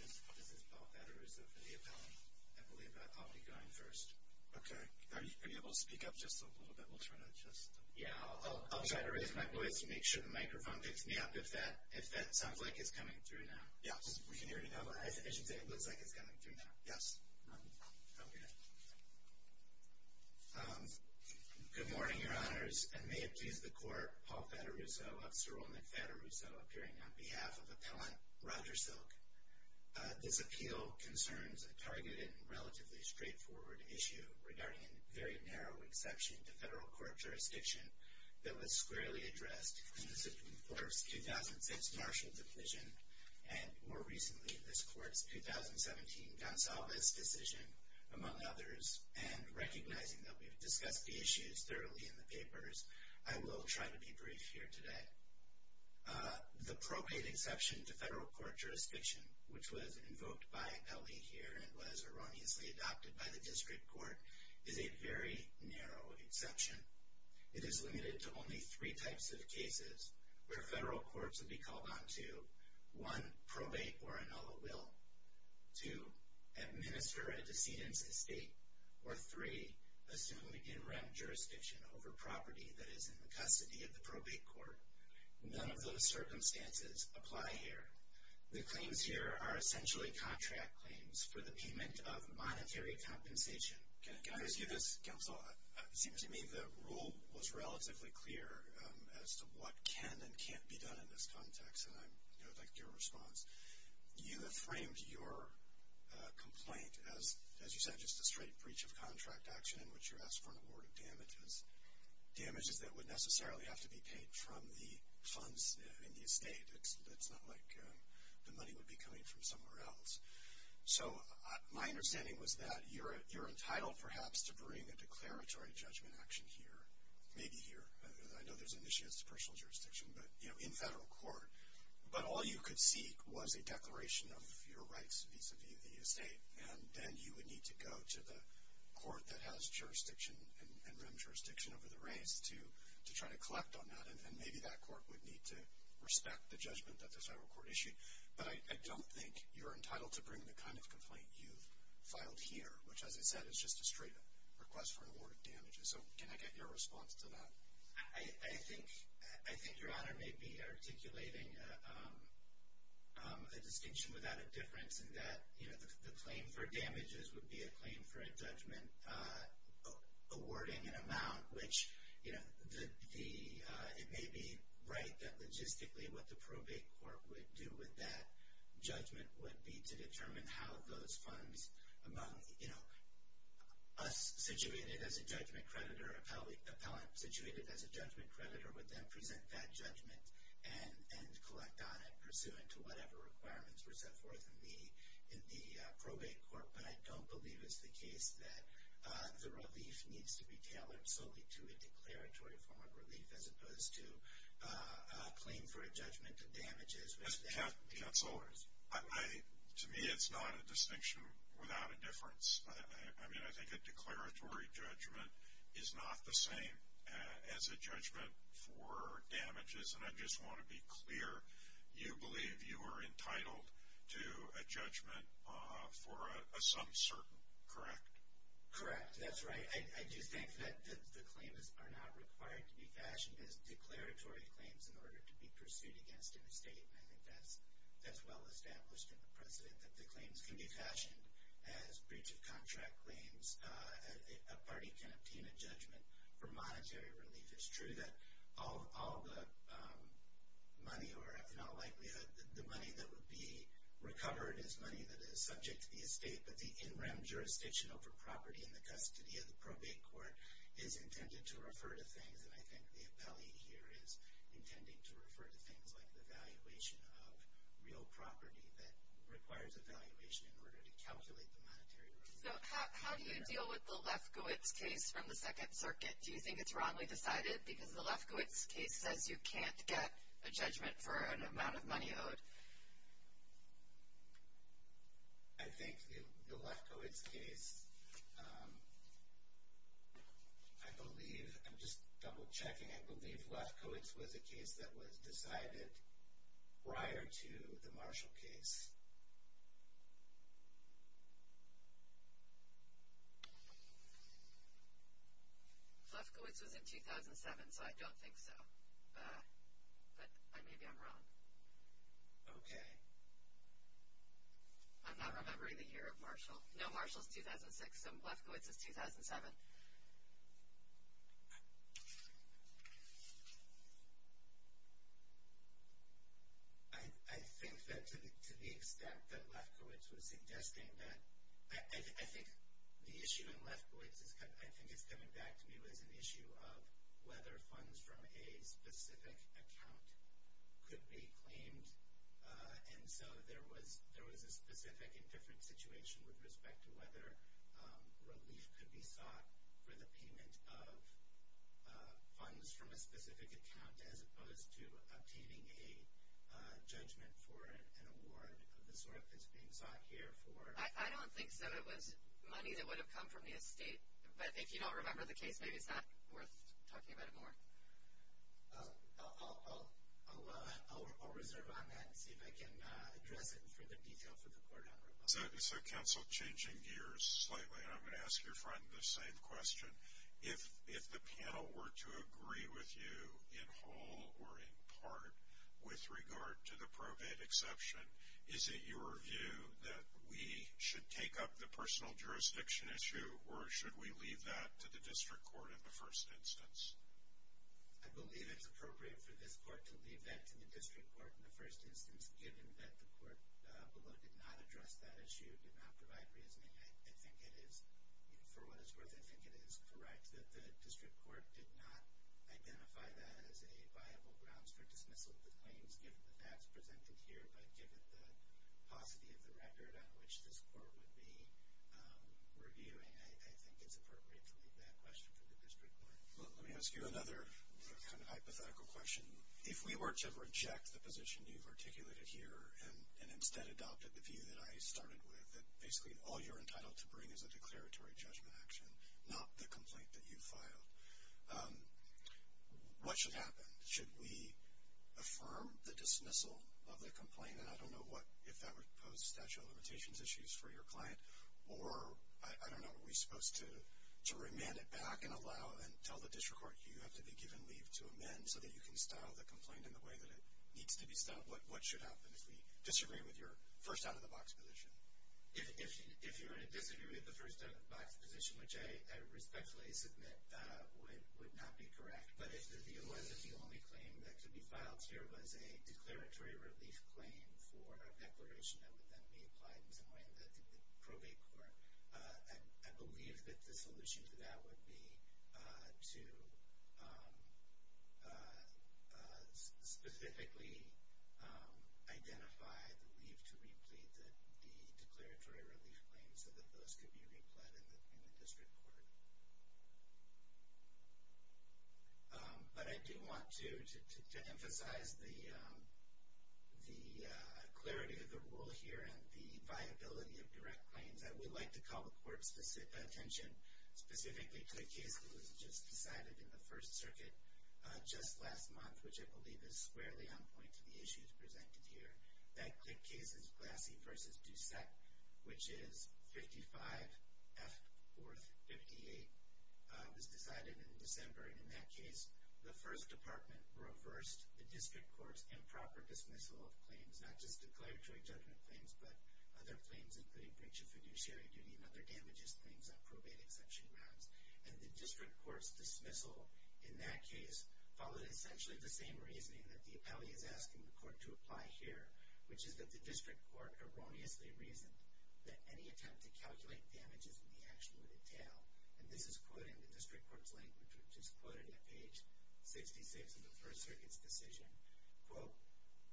This is Paul Fattarusso for the appellant. I believe I'll be going first. Okay. Are you able to speak up just a little bit? We'll try to just... Yeah, I'll try to raise my voice and make sure the microphone picks me up if that sounds like it's coming through now. Yes, we can hear you now. I should say it looks like it's coming through now. Yes. Okay. Good morning, Your Honors. And may it please the Court, Paul Fattarusso of Cyril McFattarusso appearing on behalf of Appellant Roger Silk. This appeal concerns a targeted and relatively straightforward issue regarding a very narrow exception to federal court jurisdiction that was squarely addressed in the Supreme Court's 2006 Marshall Declision, and more recently, this Court's 2017 Gonsalves decision, among others, and recognizing that we've discussed the issues thoroughly in the papers, I will try to be brief here today. The probate exception to federal court jurisdiction, which was invoked by Ellie here and was erroneously adopted by the District Court, is a very narrow exception. It is limited to only three types of cases where federal courts would be called on to, One, probate or annul a will. Two, administer a decedent's estate. Or three, assume interim jurisdiction over property that is in the custody of the probate court. None of those circumstances apply here. The claims here are essentially contract claims for the payment of monetary compensation. Can I ask you this, Counsel? It seems to me the rule was relatively clear as to what can and can't be done in this context, and I would like your response. You have framed your complaint as, as you said, just a straight breach of contract action in which you're asked for an award of damages, damages that would necessarily have to be paid from the funds in the estate. It's not like the money would be coming from somewhere else. So my understanding was that you're entitled, perhaps, to bring a declaratory judgment action here, maybe here. I know there's an issue as to personal jurisdiction, but, you know, in federal court. But all you could seek was a declaration of your rights vis-a-vis the estate, and then you would need to go to the court that has jurisdiction and interim jurisdiction over the reins to try to collect on that. And maybe that court would need to respect the judgment that the federal court issued. But I don't think you're entitled to bring the kind of complaint you've filed here, which, as I said, is just a straight request for an award of damages. So can I get your response to that? I think your Honor may be articulating a distinction without a difference in that, you know, the claim for damages would be a claim for a judgment awarding an amount which, you know, it may be right that logistically what the probate court would do with that judgment would be to determine how those funds among, you know, us situated as a judgment creditor, appellant situated as a judgment creditor would then present that judgment and collect on it, pursuant to whatever requirements were set forth in the probate court. But I don't believe it's the case that the relief needs to be tailored solely to a declaratory form of relief as opposed to a claim for a judgment of damages. Counselors? To me it's not a distinction without a difference. I mean, I think a declaratory judgment is not the same as a judgment for damages, and I just want to be clear, you believe you are entitled to a judgment for a some certain, correct? Correct. That's right. I do think that the claims are not required to be fashioned as declaratory claims in order to be pursued against an estate, and I think that's well established in the precedent that the claims can be fashioned as breach of contract claims. A party can obtain a judgment for monetary relief. It's true that all the money or, if in all likelihood, the money that would be recovered is money that is subject to the estate, but the in-rem jurisdiction over property in the custody of the probate court is intended to refer to things, and I think the appellee here is intending to refer to things like the valuation of real property that requires a valuation in order to calculate the monetary relief. So how do you deal with the Lefkowitz case from the Second Circuit? Do you think it's wrongly decided because the Lefkowitz case says you can't get a judgment for an amount of money owed? I think the Lefkowitz case, I believe, I'm just double-checking, I believe Lefkowitz was a case that was decided prior to the Marshall case. Lefkowitz was in 2007, so I don't think so. But maybe I'm wrong. Okay. I'm not remembering the year of Marshall. No, Marshall is 2006, so Lefkowitz is 2007. I think that to the extent that Lefkowitz was suggesting that, I think the issue in Lefkowitz, I think it's coming back to me, was an issue of whether funds from a specific account could be claimed, and so there was a specific and different situation with respect to whether relief could be sought for the payment of funds from a specific account, as opposed to obtaining a judgment for an award of the sort that's being sought here. I don't think so. It was money that would have come from the estate, but if you don't remember the case, maybe it's not worth talking about it more. I'll reserve on that and see if I can address it in further detail for the court. So, counsel, changing gears slightly, and I'm going to ask your friend the same question. If the panel were to agree with you in whole or in part with regard to the probate exception, is it your view that we should take up the personal jurisdiction issue or should we leave that to the district court in the first instance? I believe it's appropriate for this court to leave that to the district court in the first instance, given that the court below did not address that issue, did not provide reasoning. I think it is, for what it's worth, I think it is correct that the district court did not identify that as a viable grounds for dismissal of the claims given the facts presented here, but given the paucity of the record on which this court would be reviewing, I think it's appropriate to leave that question to the district court. Let me ask you another hypothetical question. If we were to reject the position you've articulated here and instead adopted the view that I started with, that basically all you're entitled to bring is a declaratory judgment action, not the complaint that you filed, what should happen? Should we affirm the dismissal of the complaint, and I don't know if that would pose statute of limitations issues for your client, or I don't know, are we supposed to remand it back and allow and tell the district court you have to be given leave to amend so that you can style the complaint in the way that it needs to be styled? What should happen if we disagree with your first out-of-the-box position? If you're going to disagree with the first out-of-the-box position, which I respectfully submit would not be correct, but if the view was that the only claim that could be filed here was a declaratory relief claim for a declaration that would then be applied in some way to the probate court, I believe that the solution to that would be to specifically identify the leave to replete the declaratory relief claim so that those could be replete in the district court. But I do want to emphasize the clarity of the rule here and the viability of direct claims. I would like to call the court's attention specifically to a case that was just decided in the First Circuit just last month, which I believe is squarely on point to the issues presented here. That case is Glassy v. Doucette, which is 55 F. 4th, 58. It was decided in December, and in that case, the First Department reversed the district court's improper dismissal of claims, which was not just declaratory judgment claims but other claims, including breach of fiduciary duty and other damages claims on probate exception grounds. And the district court's dismissal in that case followed essentially the same reasoning that the appellee is asking the court to apply here, which is that the district court erroneously reasoned that any attempt to calculate damages in the action would entail. And this is quoted in the district court's language, which is quoted at page 66 of the First Circuit's decision. Quote,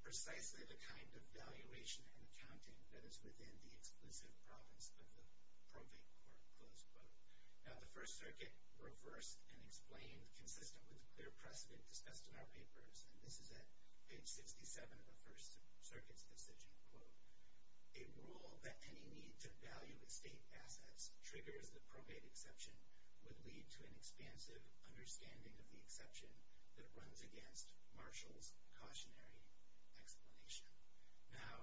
precisely the kind of valuation and accounting that is within the exclusive province of the probate court, close quote. Now the First Circuit reversed and explained, consistent with the clear precedent discussed in our papers, and this is at page 67 of the First Circuit's decision, quote, a rule that any need to value estate assets triggers the probate exception would lead to an expansive understanding of the exception that runs against Marshall's cautionary explanation. Now,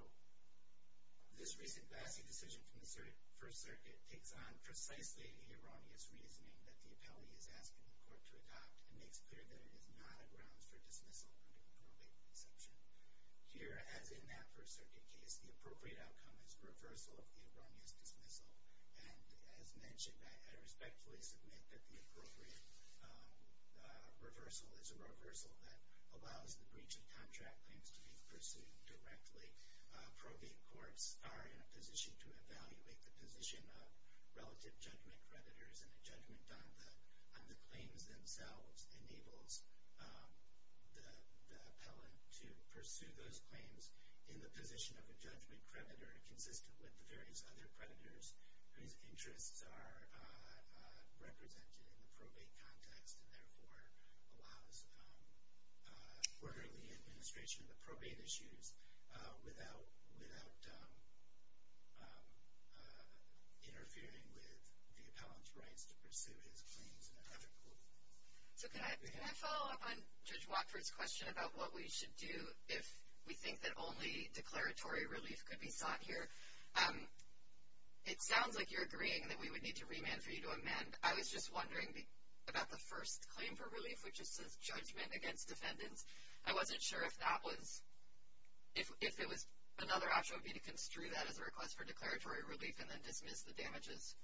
this recent Vassie decision from the First Circuit takes on precisely the erroneous reasoning that the appellee is asking the court to adopt and makes clear that it is not a grounds for dismissal under the probate exception. Here, as in that First Circuit case, the appropriate outcome is reversal of the erroneous dismissal. And as mentioned, I respectfully submit that the appropriate reversal is a reversal that allows the breach of contract claims to be pursued directly. Probate courts are in a position to evaluate the position of relative judgment creditors and the judgment on the claims themselves enables the appellant to pursue those claims in the position of a judgment creditor consistent with the various other creditors whose interests are represented in the probate context and therefore allows orderly administration of the probate issues without interfering with the appellant's rights to pursue his claims in a public court. So can I follow up on Judge Watford's question about what we should do if we think that only declaratory relief could be sought here? It sounds like you're agreeing that we would need to remand for you to amend. I was just wondering about the first claim for relief, which is judgment against defendants. I wasn't sure if that was, if another option would be to construe that as a request for declaratory relief and then dismiss the damages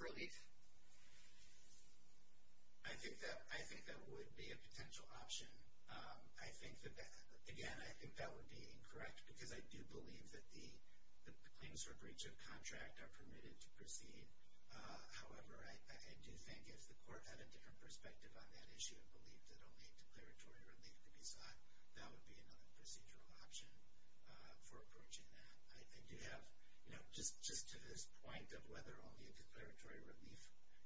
relief. I think that would be a potential option. I think that, again, I think that would be incorrect because I do believe that the claims for breach of contract are permitted to proceed. However, I do think if the court had a different perspective on that issue and believed that only a declaratory relief could be sought, that would be another procedural option for approaching that. I do have, you know, just to this point of whether only a declaratory relief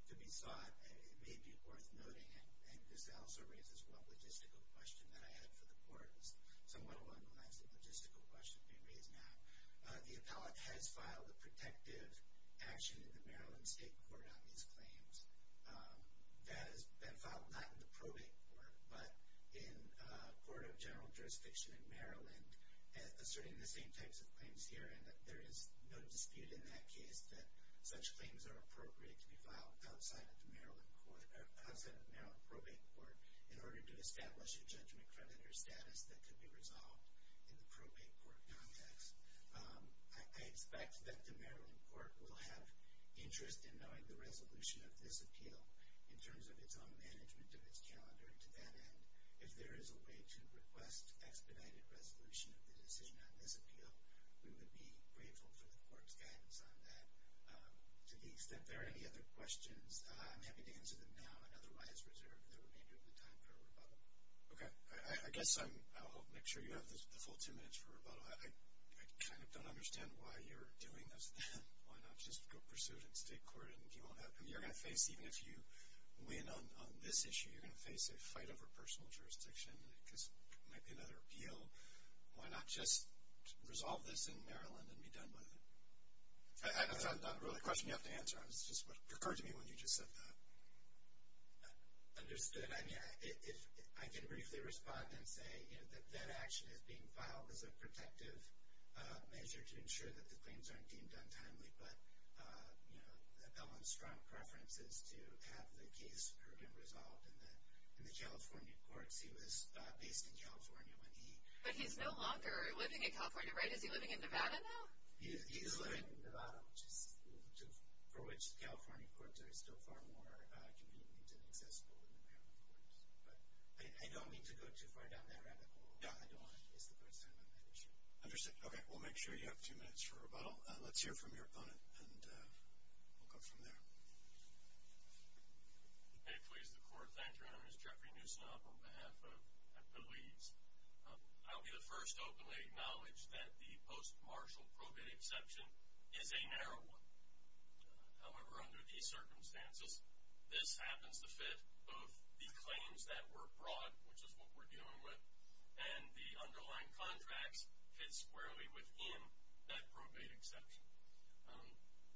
could be sought, it may be worth noting, and this also raises one logistical question that I had for the court. It was somewhat of an unrelenting logistical question being raised now. The appellate has filed a protective action in the Maryland State Court on these claims. That has been filed not in the probate court, but in a court of general jurisdiction in Maryland, asserting the same types of claims here and that there is no dispute in that case that such claims are appropriate to be filed outside of the Maryland probate court in order to establish a judgment creditor status that could be resolved in the probate court context. I expect that the Maryland court will have interest in knowing the resolution of this appeal in terms of its own management of its calendar to that end. If there is a way to request expedited resolution of the decision on this appeal, we would be grateful for the court's guidance on that. To the extent there are any other questions, I'm happy to answer them now and otherwise reserve the remainder of the time for rebuttal. Okay. I guess I'll make sure you have the full ten minutes for rebuttal. I kind of don't understand why you're doing this. Why not just go pursue it in state court and you won't have to? You're going to face, even if you win on this issue, you're going to face a fight over personal jurisdiction because it might be another appeal. So why not just resolve this in Maryland and be done with it? That's not really a question you have to answer. It's just what occurred to me when you just said that. Understood. I mean, I can briefly respond and say that that action is being filed as a protective measure to ensure that the claims aren't deemed untimely, but Ellen's strong preference is to have the case be resolved in the California courts. But he's no longer living in California, right? Is he living in Nevada now? He is living in Nevada, for which the California courts are still far more convenient and accessible than the Maryland courts. But I don't mean to go too far down that rabbit hole. I don't want to miss the court's time on that issue. Understood. Okay. We'll make sure you have two minutes for rebuttal. Let's hear from your opponent and we'll go from there. Okay. Please, the court. Thank you, Your Honor. This is Jeffrey Newsom on behalf of Appellees. I will be the first to openly acknowledge that the post-martial probate exception is a narrow one. However, under these circumstances, this happens to fit both the claims that were brought, which is what we're dealing with, and the underlying contracts fit squarely within that probate exception.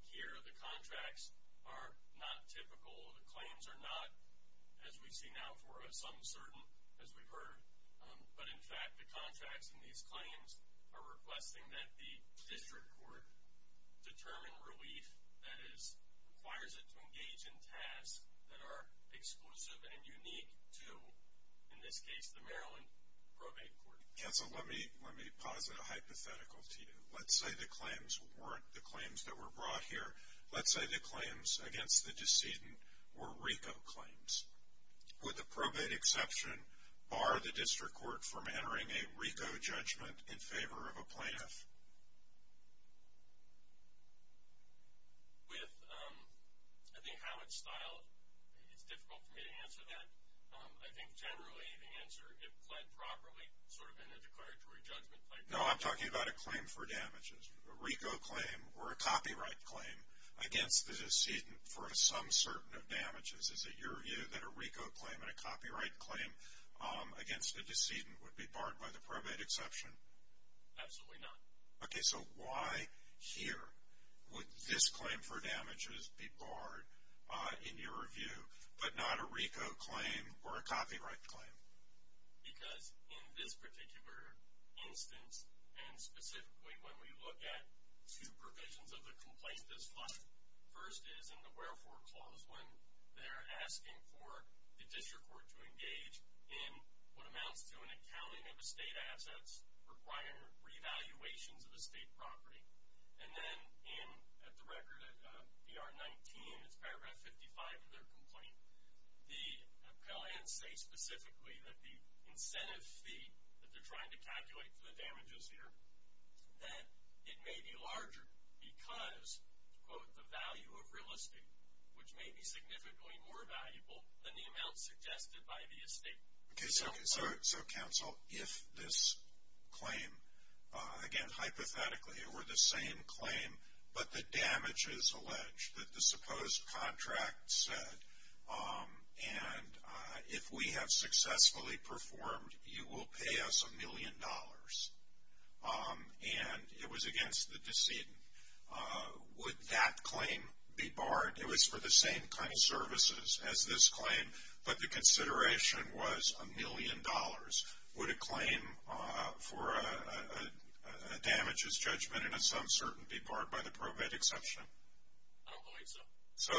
Here, the contracts are not typical. The claims are not, as we see now for us, uncertain, as we've heard. But, in fact, the contracts in these claims are requesting that the district court determine relief that requires it to engage in tasks that are exclusive and unique to, in this case, the Maryland probate court. Counsel, let me posit a hypothetical to you. Let's say the claims weren't the claims that were brought here. Let's say the claims against the decedent were RICO claims. Would the probate exception bar the district court from entering a RICO judgment in favor of a plaintiff? With, I think, how it's styled, it's difficult for me to answer that. I think, generally, the answer, if pled properly, sort of in a declaratory judgment. No, I'm talking about a claim for damages. A RICO claim or a copyright claim against the decedent for some certain of damages. Is it your view that a RICO claim and a copyright claim against a decedent would be barred by the probate exception? Absolutely not. Okay, so why here would this claim for damages be barred, in your view, but not a RICO claim or a copyright claim? Because in this particular instance, and specifically when we look at two provisions of the Complaint Disclosure, first is in the Wherefore Clause when they're asking for the district court to engage in what amounts to an accounting of estate assets requiring re-evaluations of estate property. And then in, at the record, in VR 19, it's paragraph 55 of their complaint, the appellants say specifically that the incentive fee that they're trying to calculate for the damages here, that it may be larger because, quote, the value of real estate, which may be significantly more valuable than the amount suggested by the estate. Okay, so counsel, if this claim, again, hypothetically, were the same claim, but the damage is alleged that the supposed contract said, and if we have successfully performed, you will pay us a million dollars. And it was against the decedent. Would that claim be barred? It was for the same kind of services as this claim, but the consideration was a million dollars. Would a claim for a damages judgment in a sum certain be barred by the probate exception? I don't believe so. So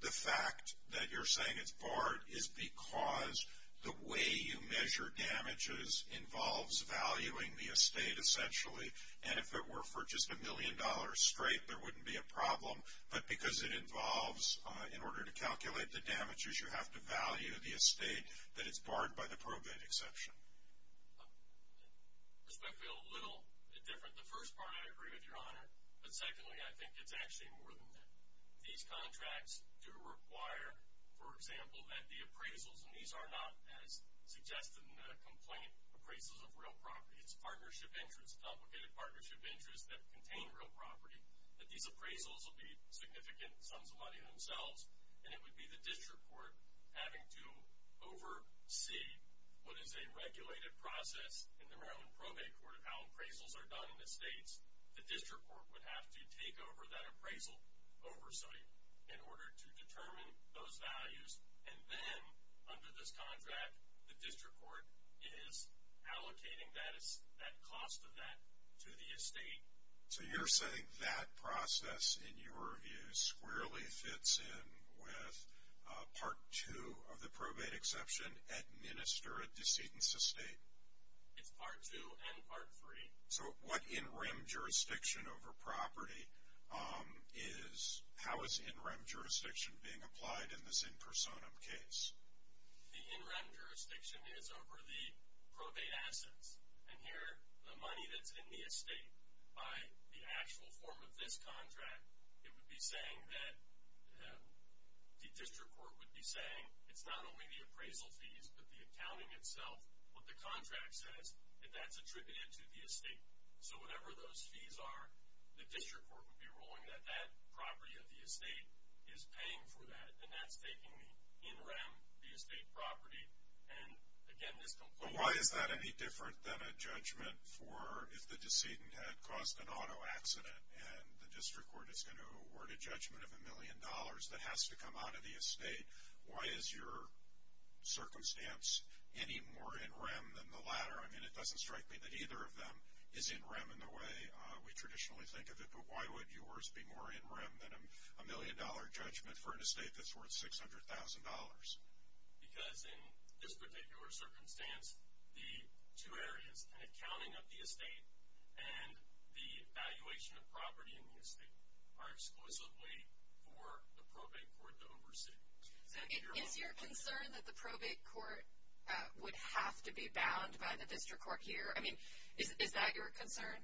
the fact that you're saying it's barred is because the way you measure damages involves valuing the estate, essentially. And if it were for just a million dollars straight, there wouldn't be a problem. But because it involves, in order to calculate the damages, you have to value the estate, that it's barred by the probate exception. This may feel a little different. The first part I agree with, Your Honor. But secondly, I think it's actually more than that. These contracts do require, for example, that the appraisals, and these are not, as suggested in the complaint, appraisals of real property. It's partnership interests, complicated partnership interests that contain real property, that these appraisals will be significant sums of money themselves. And it would be the district court having to oversee what is a regulated process in the Maryland Probate Court of how appraisals are done in estates. The district court would have to take over that appraisal oversight in order to determine those values. And then, under this contract, the district court is allocating that cost of that to the estate. So you're saying that process, in your view, squarely fits in with Part 2 of the probate exception, administer a decedent's estate? It's Part 2 and Part 3. So what in-rem jurisdiction over property is, how is in-rem jurisdiction being applied in this in-personam case? The in-rem jurisdiction is over the probate assets. And here, the money that's in the estate, by the actual form of this contract, it would be saying that the district court would be saying it's not only the appraisal fees, but the accounting itself, what the contract says, and that's attributed to the estate. So whatever those fees are, the district court would be ruling that that property of the estate is paying for that, and that's taking the in-rem, the estate property, and, again, this complaint. So why is that any different than a judgment for if the decedent had caused an auto accident and the district court is going to award a judgment of a million dollars that has to come out of the estate, why is your circumstance any more in-rem than the latter? I mean, it doesn't strike me that either of them is in-rem in the way we traditionally think of it, but why would yours be more in-rem than a million-dollar judgment for an estate that's worth $600,000? Because in this particular circumstance, the two areas, an accounting of the estate and the valuation of property in the estate, are exclusively for the probate court to oversee. Is your concern that the probate court would have to be bound by the district court here? I mean, is that your concern?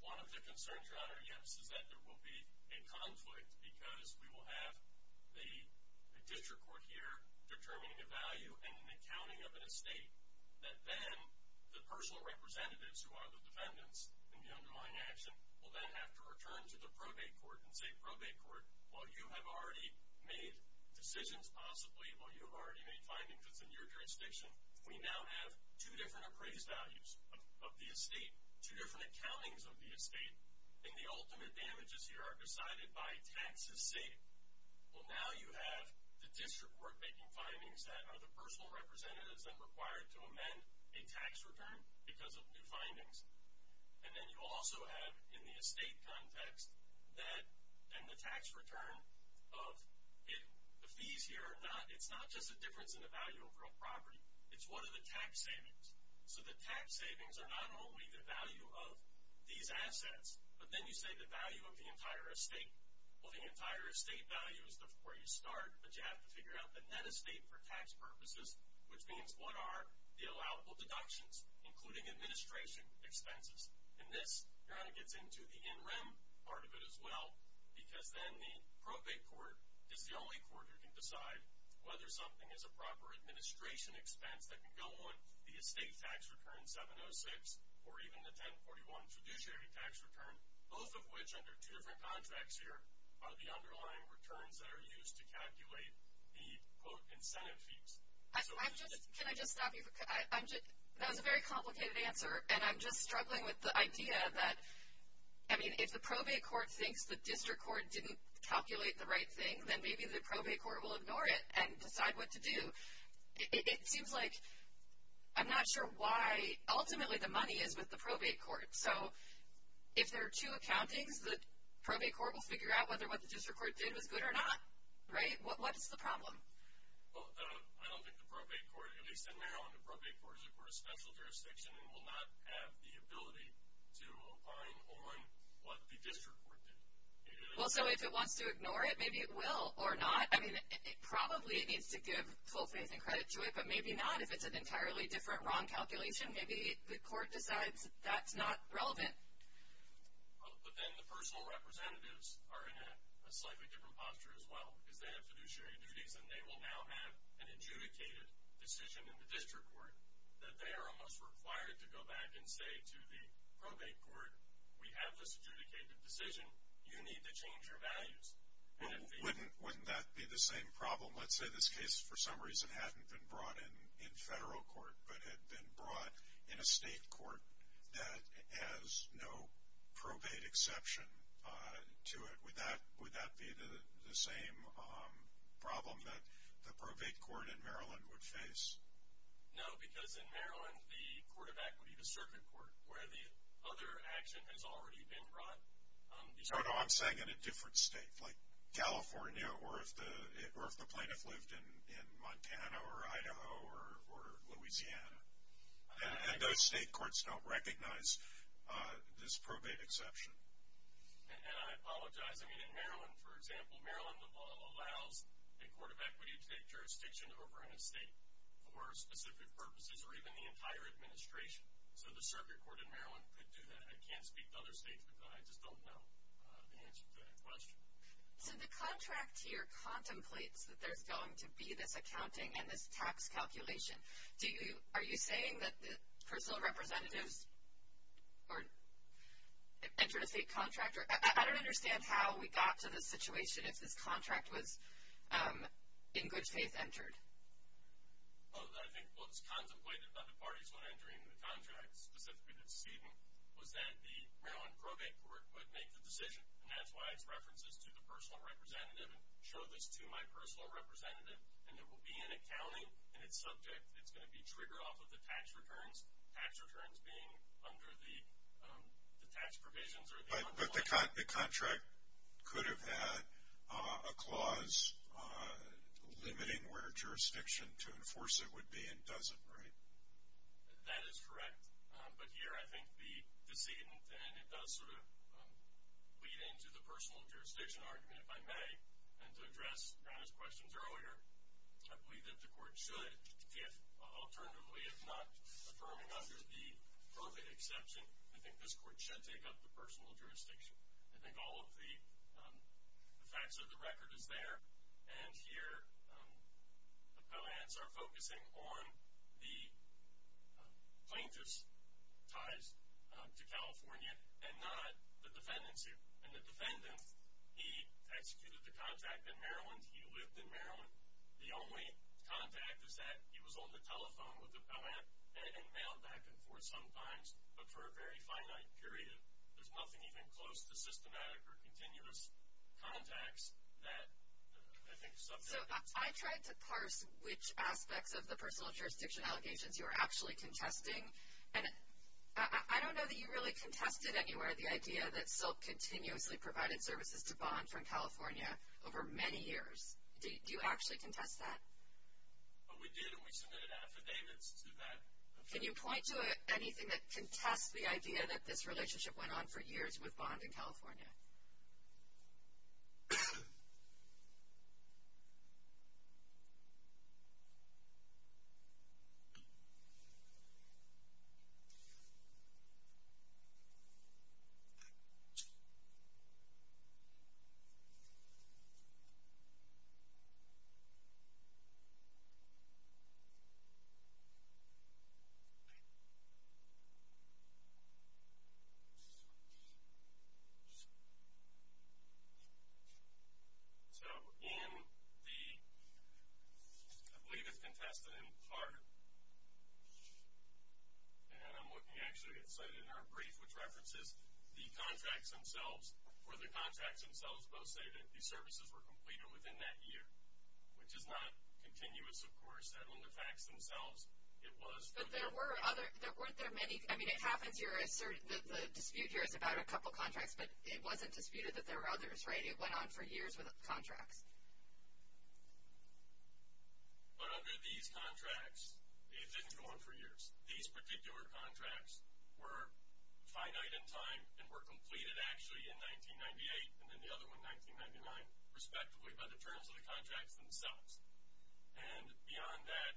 One of the concerns, Your Honor, yes, is that there will be a conflict because we will have the district court here determining a value and an accounting of an estate that then the personal representatives who are the defendants in the undermined action will then have to return to the probate court and say, probate court, while you have already made decisions possibly, while you have already made findings within your jurisdiction, we now have two different appraised values of the estate, two different accountings of the estate, and the ultimate damages here are decided by taxes saved. Well, now you have the district court making findings that are the personal representatives then required to amend a tax return because of new findings. And then you also have, in the estate context, that and the tax return of it. The fees here are not, it's not just a difference in the value of real property. It's what are the tax savings. So the tax savings are not only the value of these assets, but then you say the value of the entire estate. Well, the entire estate value is where you start, but you have to figure out the net estate for tax purposes, which means what are the allowable deductions, including administration expenses. And this, Your Honor, gets into the in rem part of it as well because then the probate court is the only court who can decide whether something is a proper administration expense that can go on the estate tax return 706 or even the 1041 fiduciary tax return, both of which under two different contracts here are the underlying returns that are used to calculate the, quote, incentive fees. Can I just stop you? That was a very complicated answer, and I'm just struggling with the idea that, I mean, if the probate court thinks the district court didn't calculate the right thing, then maybe the probate court will ignore it and decide what to do. It seems like I'm not sure why ultimately the money is with the probate court. So if there are two accountings, the probate court will figure out whether what the district court did was good or not, right? What is the problem? Well, I don't think the probate court, at least in Maryland, the probate court is, of course, special jurisdiction and will not have the ability to opine on what the district court did. Well, so if it wants to ignore it, maybe it will or not. I mean, it probably needs to give full faith and credit to it, but maybe not. If it's an entirely different wrong calculation, maybe the court decides that's not relevant. But then the personal representatives are in a slightly different posture as well because they have fiduciary duties, and they will now have an adjudicated decision in the district court that they are almost required to go back and say to the probate court, we have this adjudicated decision. You need to change your values. Wouldn't that be the same problem? Let's say this case, for some reason, hadn't been brought in federal court but had been brought in a state court that has no probate exception to it. Would that be the same problem that the probate court in Maryland would face? No, because in Maryland, the court of equity, the circuit court, where the other action has already been brought. No, no, I'm saying in a different state, like California, or if the plaintiff lived in Montana or Idaho or Louisiana. And those state courts don't recognize this probate exception. And I apologize. I mean, in Maryland, for example, Maryland allows the court of equity to take jurisdiction over an estate for specific purposes or even the entire administration. So the circuit court in Maryland could do that. I can't speak to other states because I just don't know the answer to that question. So the contract here contemplates that there's going to be this accounting and this tax calculation. Are you saying that the personal representatives entered a state contract? I don't understand how we got to this situation if this contract was in good faith entered. I think what was contemplated by the parties when entering the contract, specifically the decision, was that the Maryland probate court would make the decision. And that's why it's references to the personal representative and show this to my personal representative. And there will be an accounting in its subject. It's going to be triggered off of the tax returns, tax returns being under the tax provisions. But the contract could have had a clause limiting where jurisdiction to enforce it would be, and does it, right? That is correct. But here I think the decision, and it does sort of lead into the personal jurisdiction argument, if I may. And to address Ron's questions earlier, I believe that the court should, if alternatively, if not affirming under the perfect exception, I think this court should take up the personal jurisdiction. I think all of the facts of the record is there. And here the Pellants are focusing on the plaintiff's ties to California and not the defendant's here. And the defendant, he executed the contact in Maryland. He lived in Maryland. The only contact is that he was on the telephone with the Pellant and mailed back and forth sometimes, but for a very finite period. There's nothing even close to systematic or continuous contacts that I think subject. So I tried to parse which aspects of the personal jurisdiction allegations you were actually contesting. And I don't know that you really contested anywhere the idea that Silk continuously provided services to Bond from California over many years. Do you actually contest that? We did, and we submitted affidavits to that. Can you point to anything that contests the idea that this relationship went on for years with Bond in California? So in the, I believe it's contested in part, and I'm looking actually at something in our brief, which references the contracts themselves, where the contracts themselves both say that these services were completed within that year, which is not contested. But there were other, weren't there many, I mean it happens, the dispute here is about a couple contracts, but it wasn't disputed that there were others, right? It went on for years with the contracts. But under these contracts, it didn't go on for years. These particular contracts were finite in time and were completed actually in 1998 and then the other one in 1999, respectively, by the terms of the contracts themselves. And beyond that,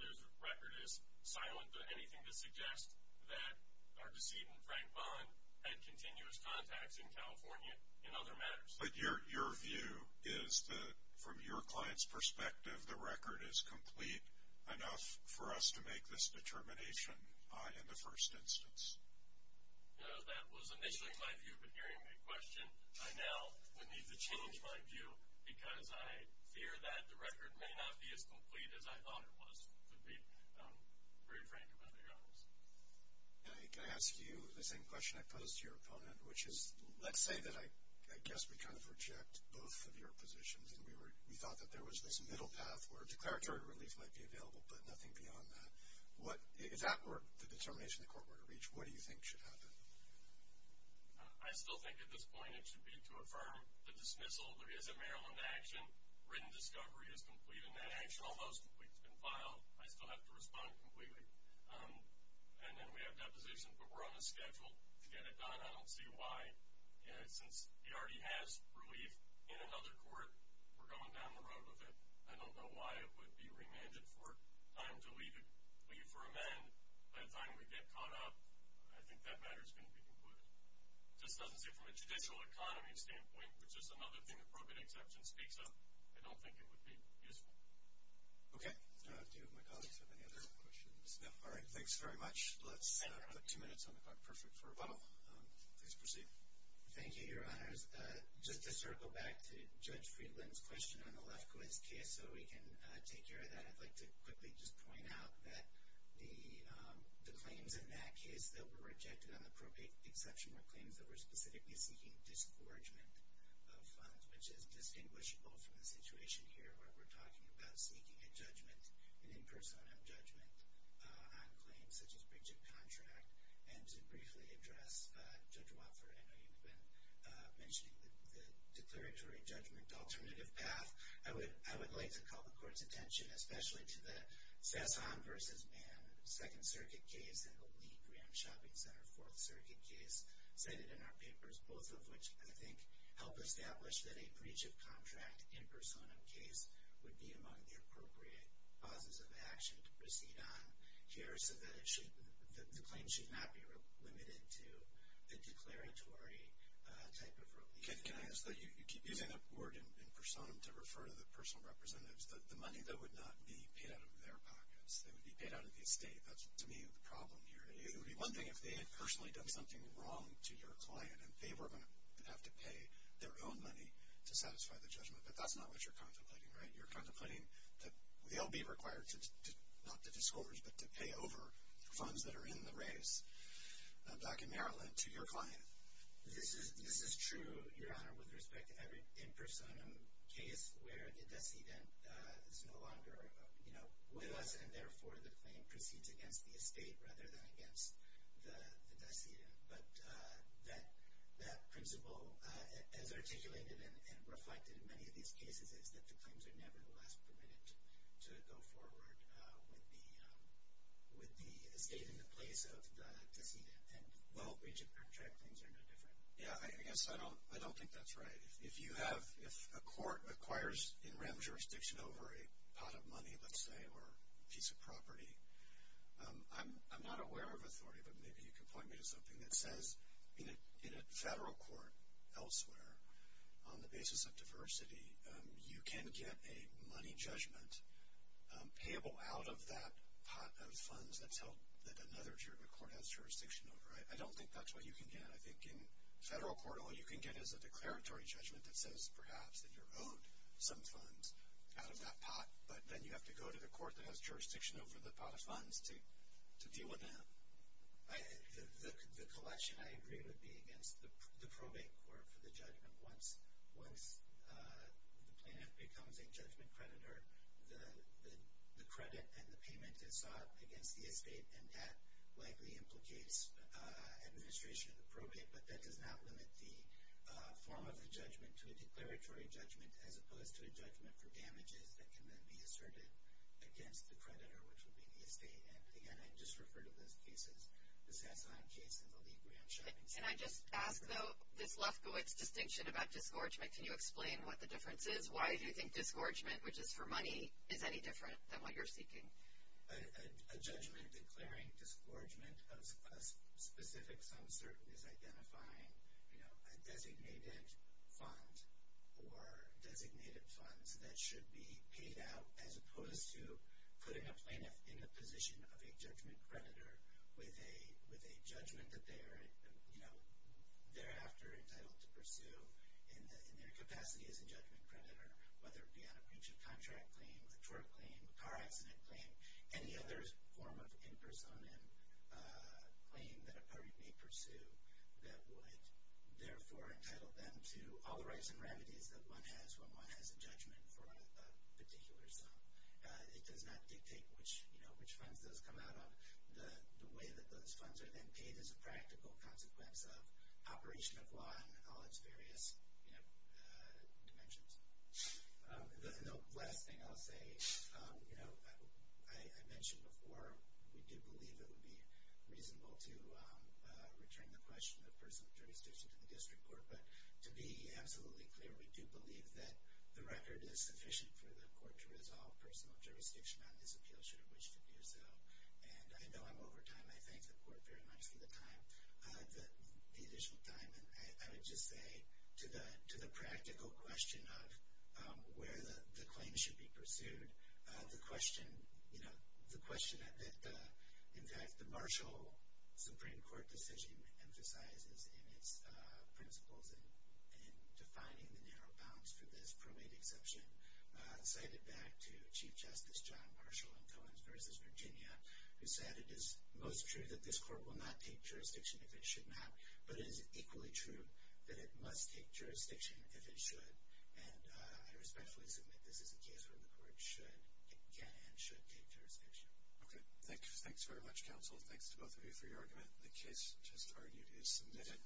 the record is silent on anything to suggest that our decedent, Frank Bond, had continuous contacts in California in other matters. But your view is that from your client's perspective, the record is complete enough for us to make this determination in the first instance? No, that was initially my view, but hearing that question, I now would need to change my view because I fear that the record may not be as complete as I thought it was, to be very frank about it. Can I ask you the same question I posed to your opponent, which is let's say that I guess we kind of reject both of your positions and we thought that there was this middle path where declaratory relief might be available, but nothing beyond that. Is that the determination the court were to reach? What do you think should happen? I still think at this point it should be to affirm the dismissal. There is a Maryland action. Written discovery is complete in that action. Almost complete. It's been filed. I still have to respond completely. And then we have deposition, but we're on a schedule to get it done. I don't see why. Since he already has relief in another court, we're going down the road with it. I don't know why it would be remanded for time to leave for amend. By the time we get caught up, I think that matter is going to be concluded. It just doesn't seem from a judicial economy standpoint, which is another thing appropriate exception speaks of, I don't think it would be useful. Okay. Do my colleagues have any other questions? No. All right. Thanks very much. Let's put two minutes on the clock. Perfect for a bottle. Please proceed. Thank you, Your Honors. Just to circle back to Judge Friedland's question on the Lefkoe's case so we can take care of that, I'd like to quickly just point out that the claims in that case that were rejected on the probate exception were claims that were specifically seeking disgorgement of funds, which is distinguishable from the situation here where we're talking about seeking a judgment, an impersonal judgment on claims such as breach of contract. And to briefly address Judge Wofford, I know you've been mentioning the declaratory judgment alternative path. I would like to call the Court's attention especially to the Sasson v. Mann Second Circuit case and the Lee Graham Shopping Center Fourth Circuit case cited in our papers, both of which I think help establish that a breach of contract impersonal case would be among the appropriate causes of action to proceed on here so that the claim should not be limited to the declaratory type of relief. Can I ask that you keep using that word in personam to refer to the personal representatives, the money that would not be paid out of their pockets? It would be paid out of the estate. That's, to me, the problem here. It would be one thing if they had personally done something wrong to your client and they were going to have to pay their own money to satisfy the judgment, but that's not what you're contemplating, right? You're contemplating that they'll be required to, not to disclose, but to pay over the funds that are in the raise back in Maryland to your client. This is true, Your Honor, with respect to every impersonam case where the decedent is no longer, you know, with us, and therefore the claim proceeds against the estate rather than against the decedent. But that principle, as articulated and reflected in many of these cases, is that the claims are nevertheless permitted to go forward with the estate in the place of the decedent. And while breach of contract claims are no different. Yeah, I guess I don't think that's right. If you have, if a court acquires in rem jurisdiction over a pot of money, let's say, or a piece of property, I'm not aware of authority, but maybe you can point me to something that says, in a federal court elsewhere, on the basis of diversity, you can get a money judgment payable out of that pot of funds that's held, that another court has jurisdiction over. I don't think that's what you can get. I think in federal court all you can get is a declaratory judgment that says, perhaps, that you're owed some funds out of that pot, but then you have to go to the court that has jurisdiction over the pot of funds to deal with that. The collection, I agree, would be against the probate court for the judgment. Once the plaintiff becomes a judgment creditor, the credit and the payment is sought against the estate, and that likely implicates administration of the probate, but that does not limit the form of the judgment to a declaratory judgment as opposed to a judgment for damages that can then be asserted against the creditor, which would be the estate. Again, I just refer to those cases, the Sasan case and the Lee-Graham shopping case. Can I just ask, though, this Lefkowitz distinction about disgorgement, can you explain what the difference is? Why do you think disgorgement, which is for money, is any different than what you're seeking? A judgment declaring disgorgement of a specific sum certain is identifying a designated fund or designated funds that should be paid out as opposed to putting a plaintiff in the position of a judgment creditor with a judgment that they are thereafter entitled to pursue in their capacity as a judgment creditor, whether it be on a breach of contract claim, a tort claim, a car accident claim, any other form of in person claim that a party may pursue that would therefore entitle them to all the rights and remedies that one has when one has a judgment for a particular sum. It does not dictate which funds those come out of. The way that those funds are then paid is a practical consequence of operation of law in all its various dimensions. The last thing I'll say, I mentioned before, we do believe it would be reasonable to return the question of personal jurisdiction to the district court. But to be absolutely clear, we do believe that the record is sufficient for the court to resolve personal jurisdiction on this appeal should it wish to do so. And I know I'm over time. I thank the court very much for the time, the additional time. And I would just say to the practical question of where the claim should be pursued, the question that, in fact, the Marshall Supreme Court decision emphasizes in its principles in defining the narrow bounds for this cited back to Chief Justice John Marshall in Cohen's versus Virginia, who said it is most true that this court will not take jurisdiction if it should not, but it is equally true that it must take jurisdiction if it should. And I respectfully submit this is a case where the court should get and should take jurisdiction. Okay. Thanks very much, counsel. Thanks to both of you for your argument. The case just argued is submitted.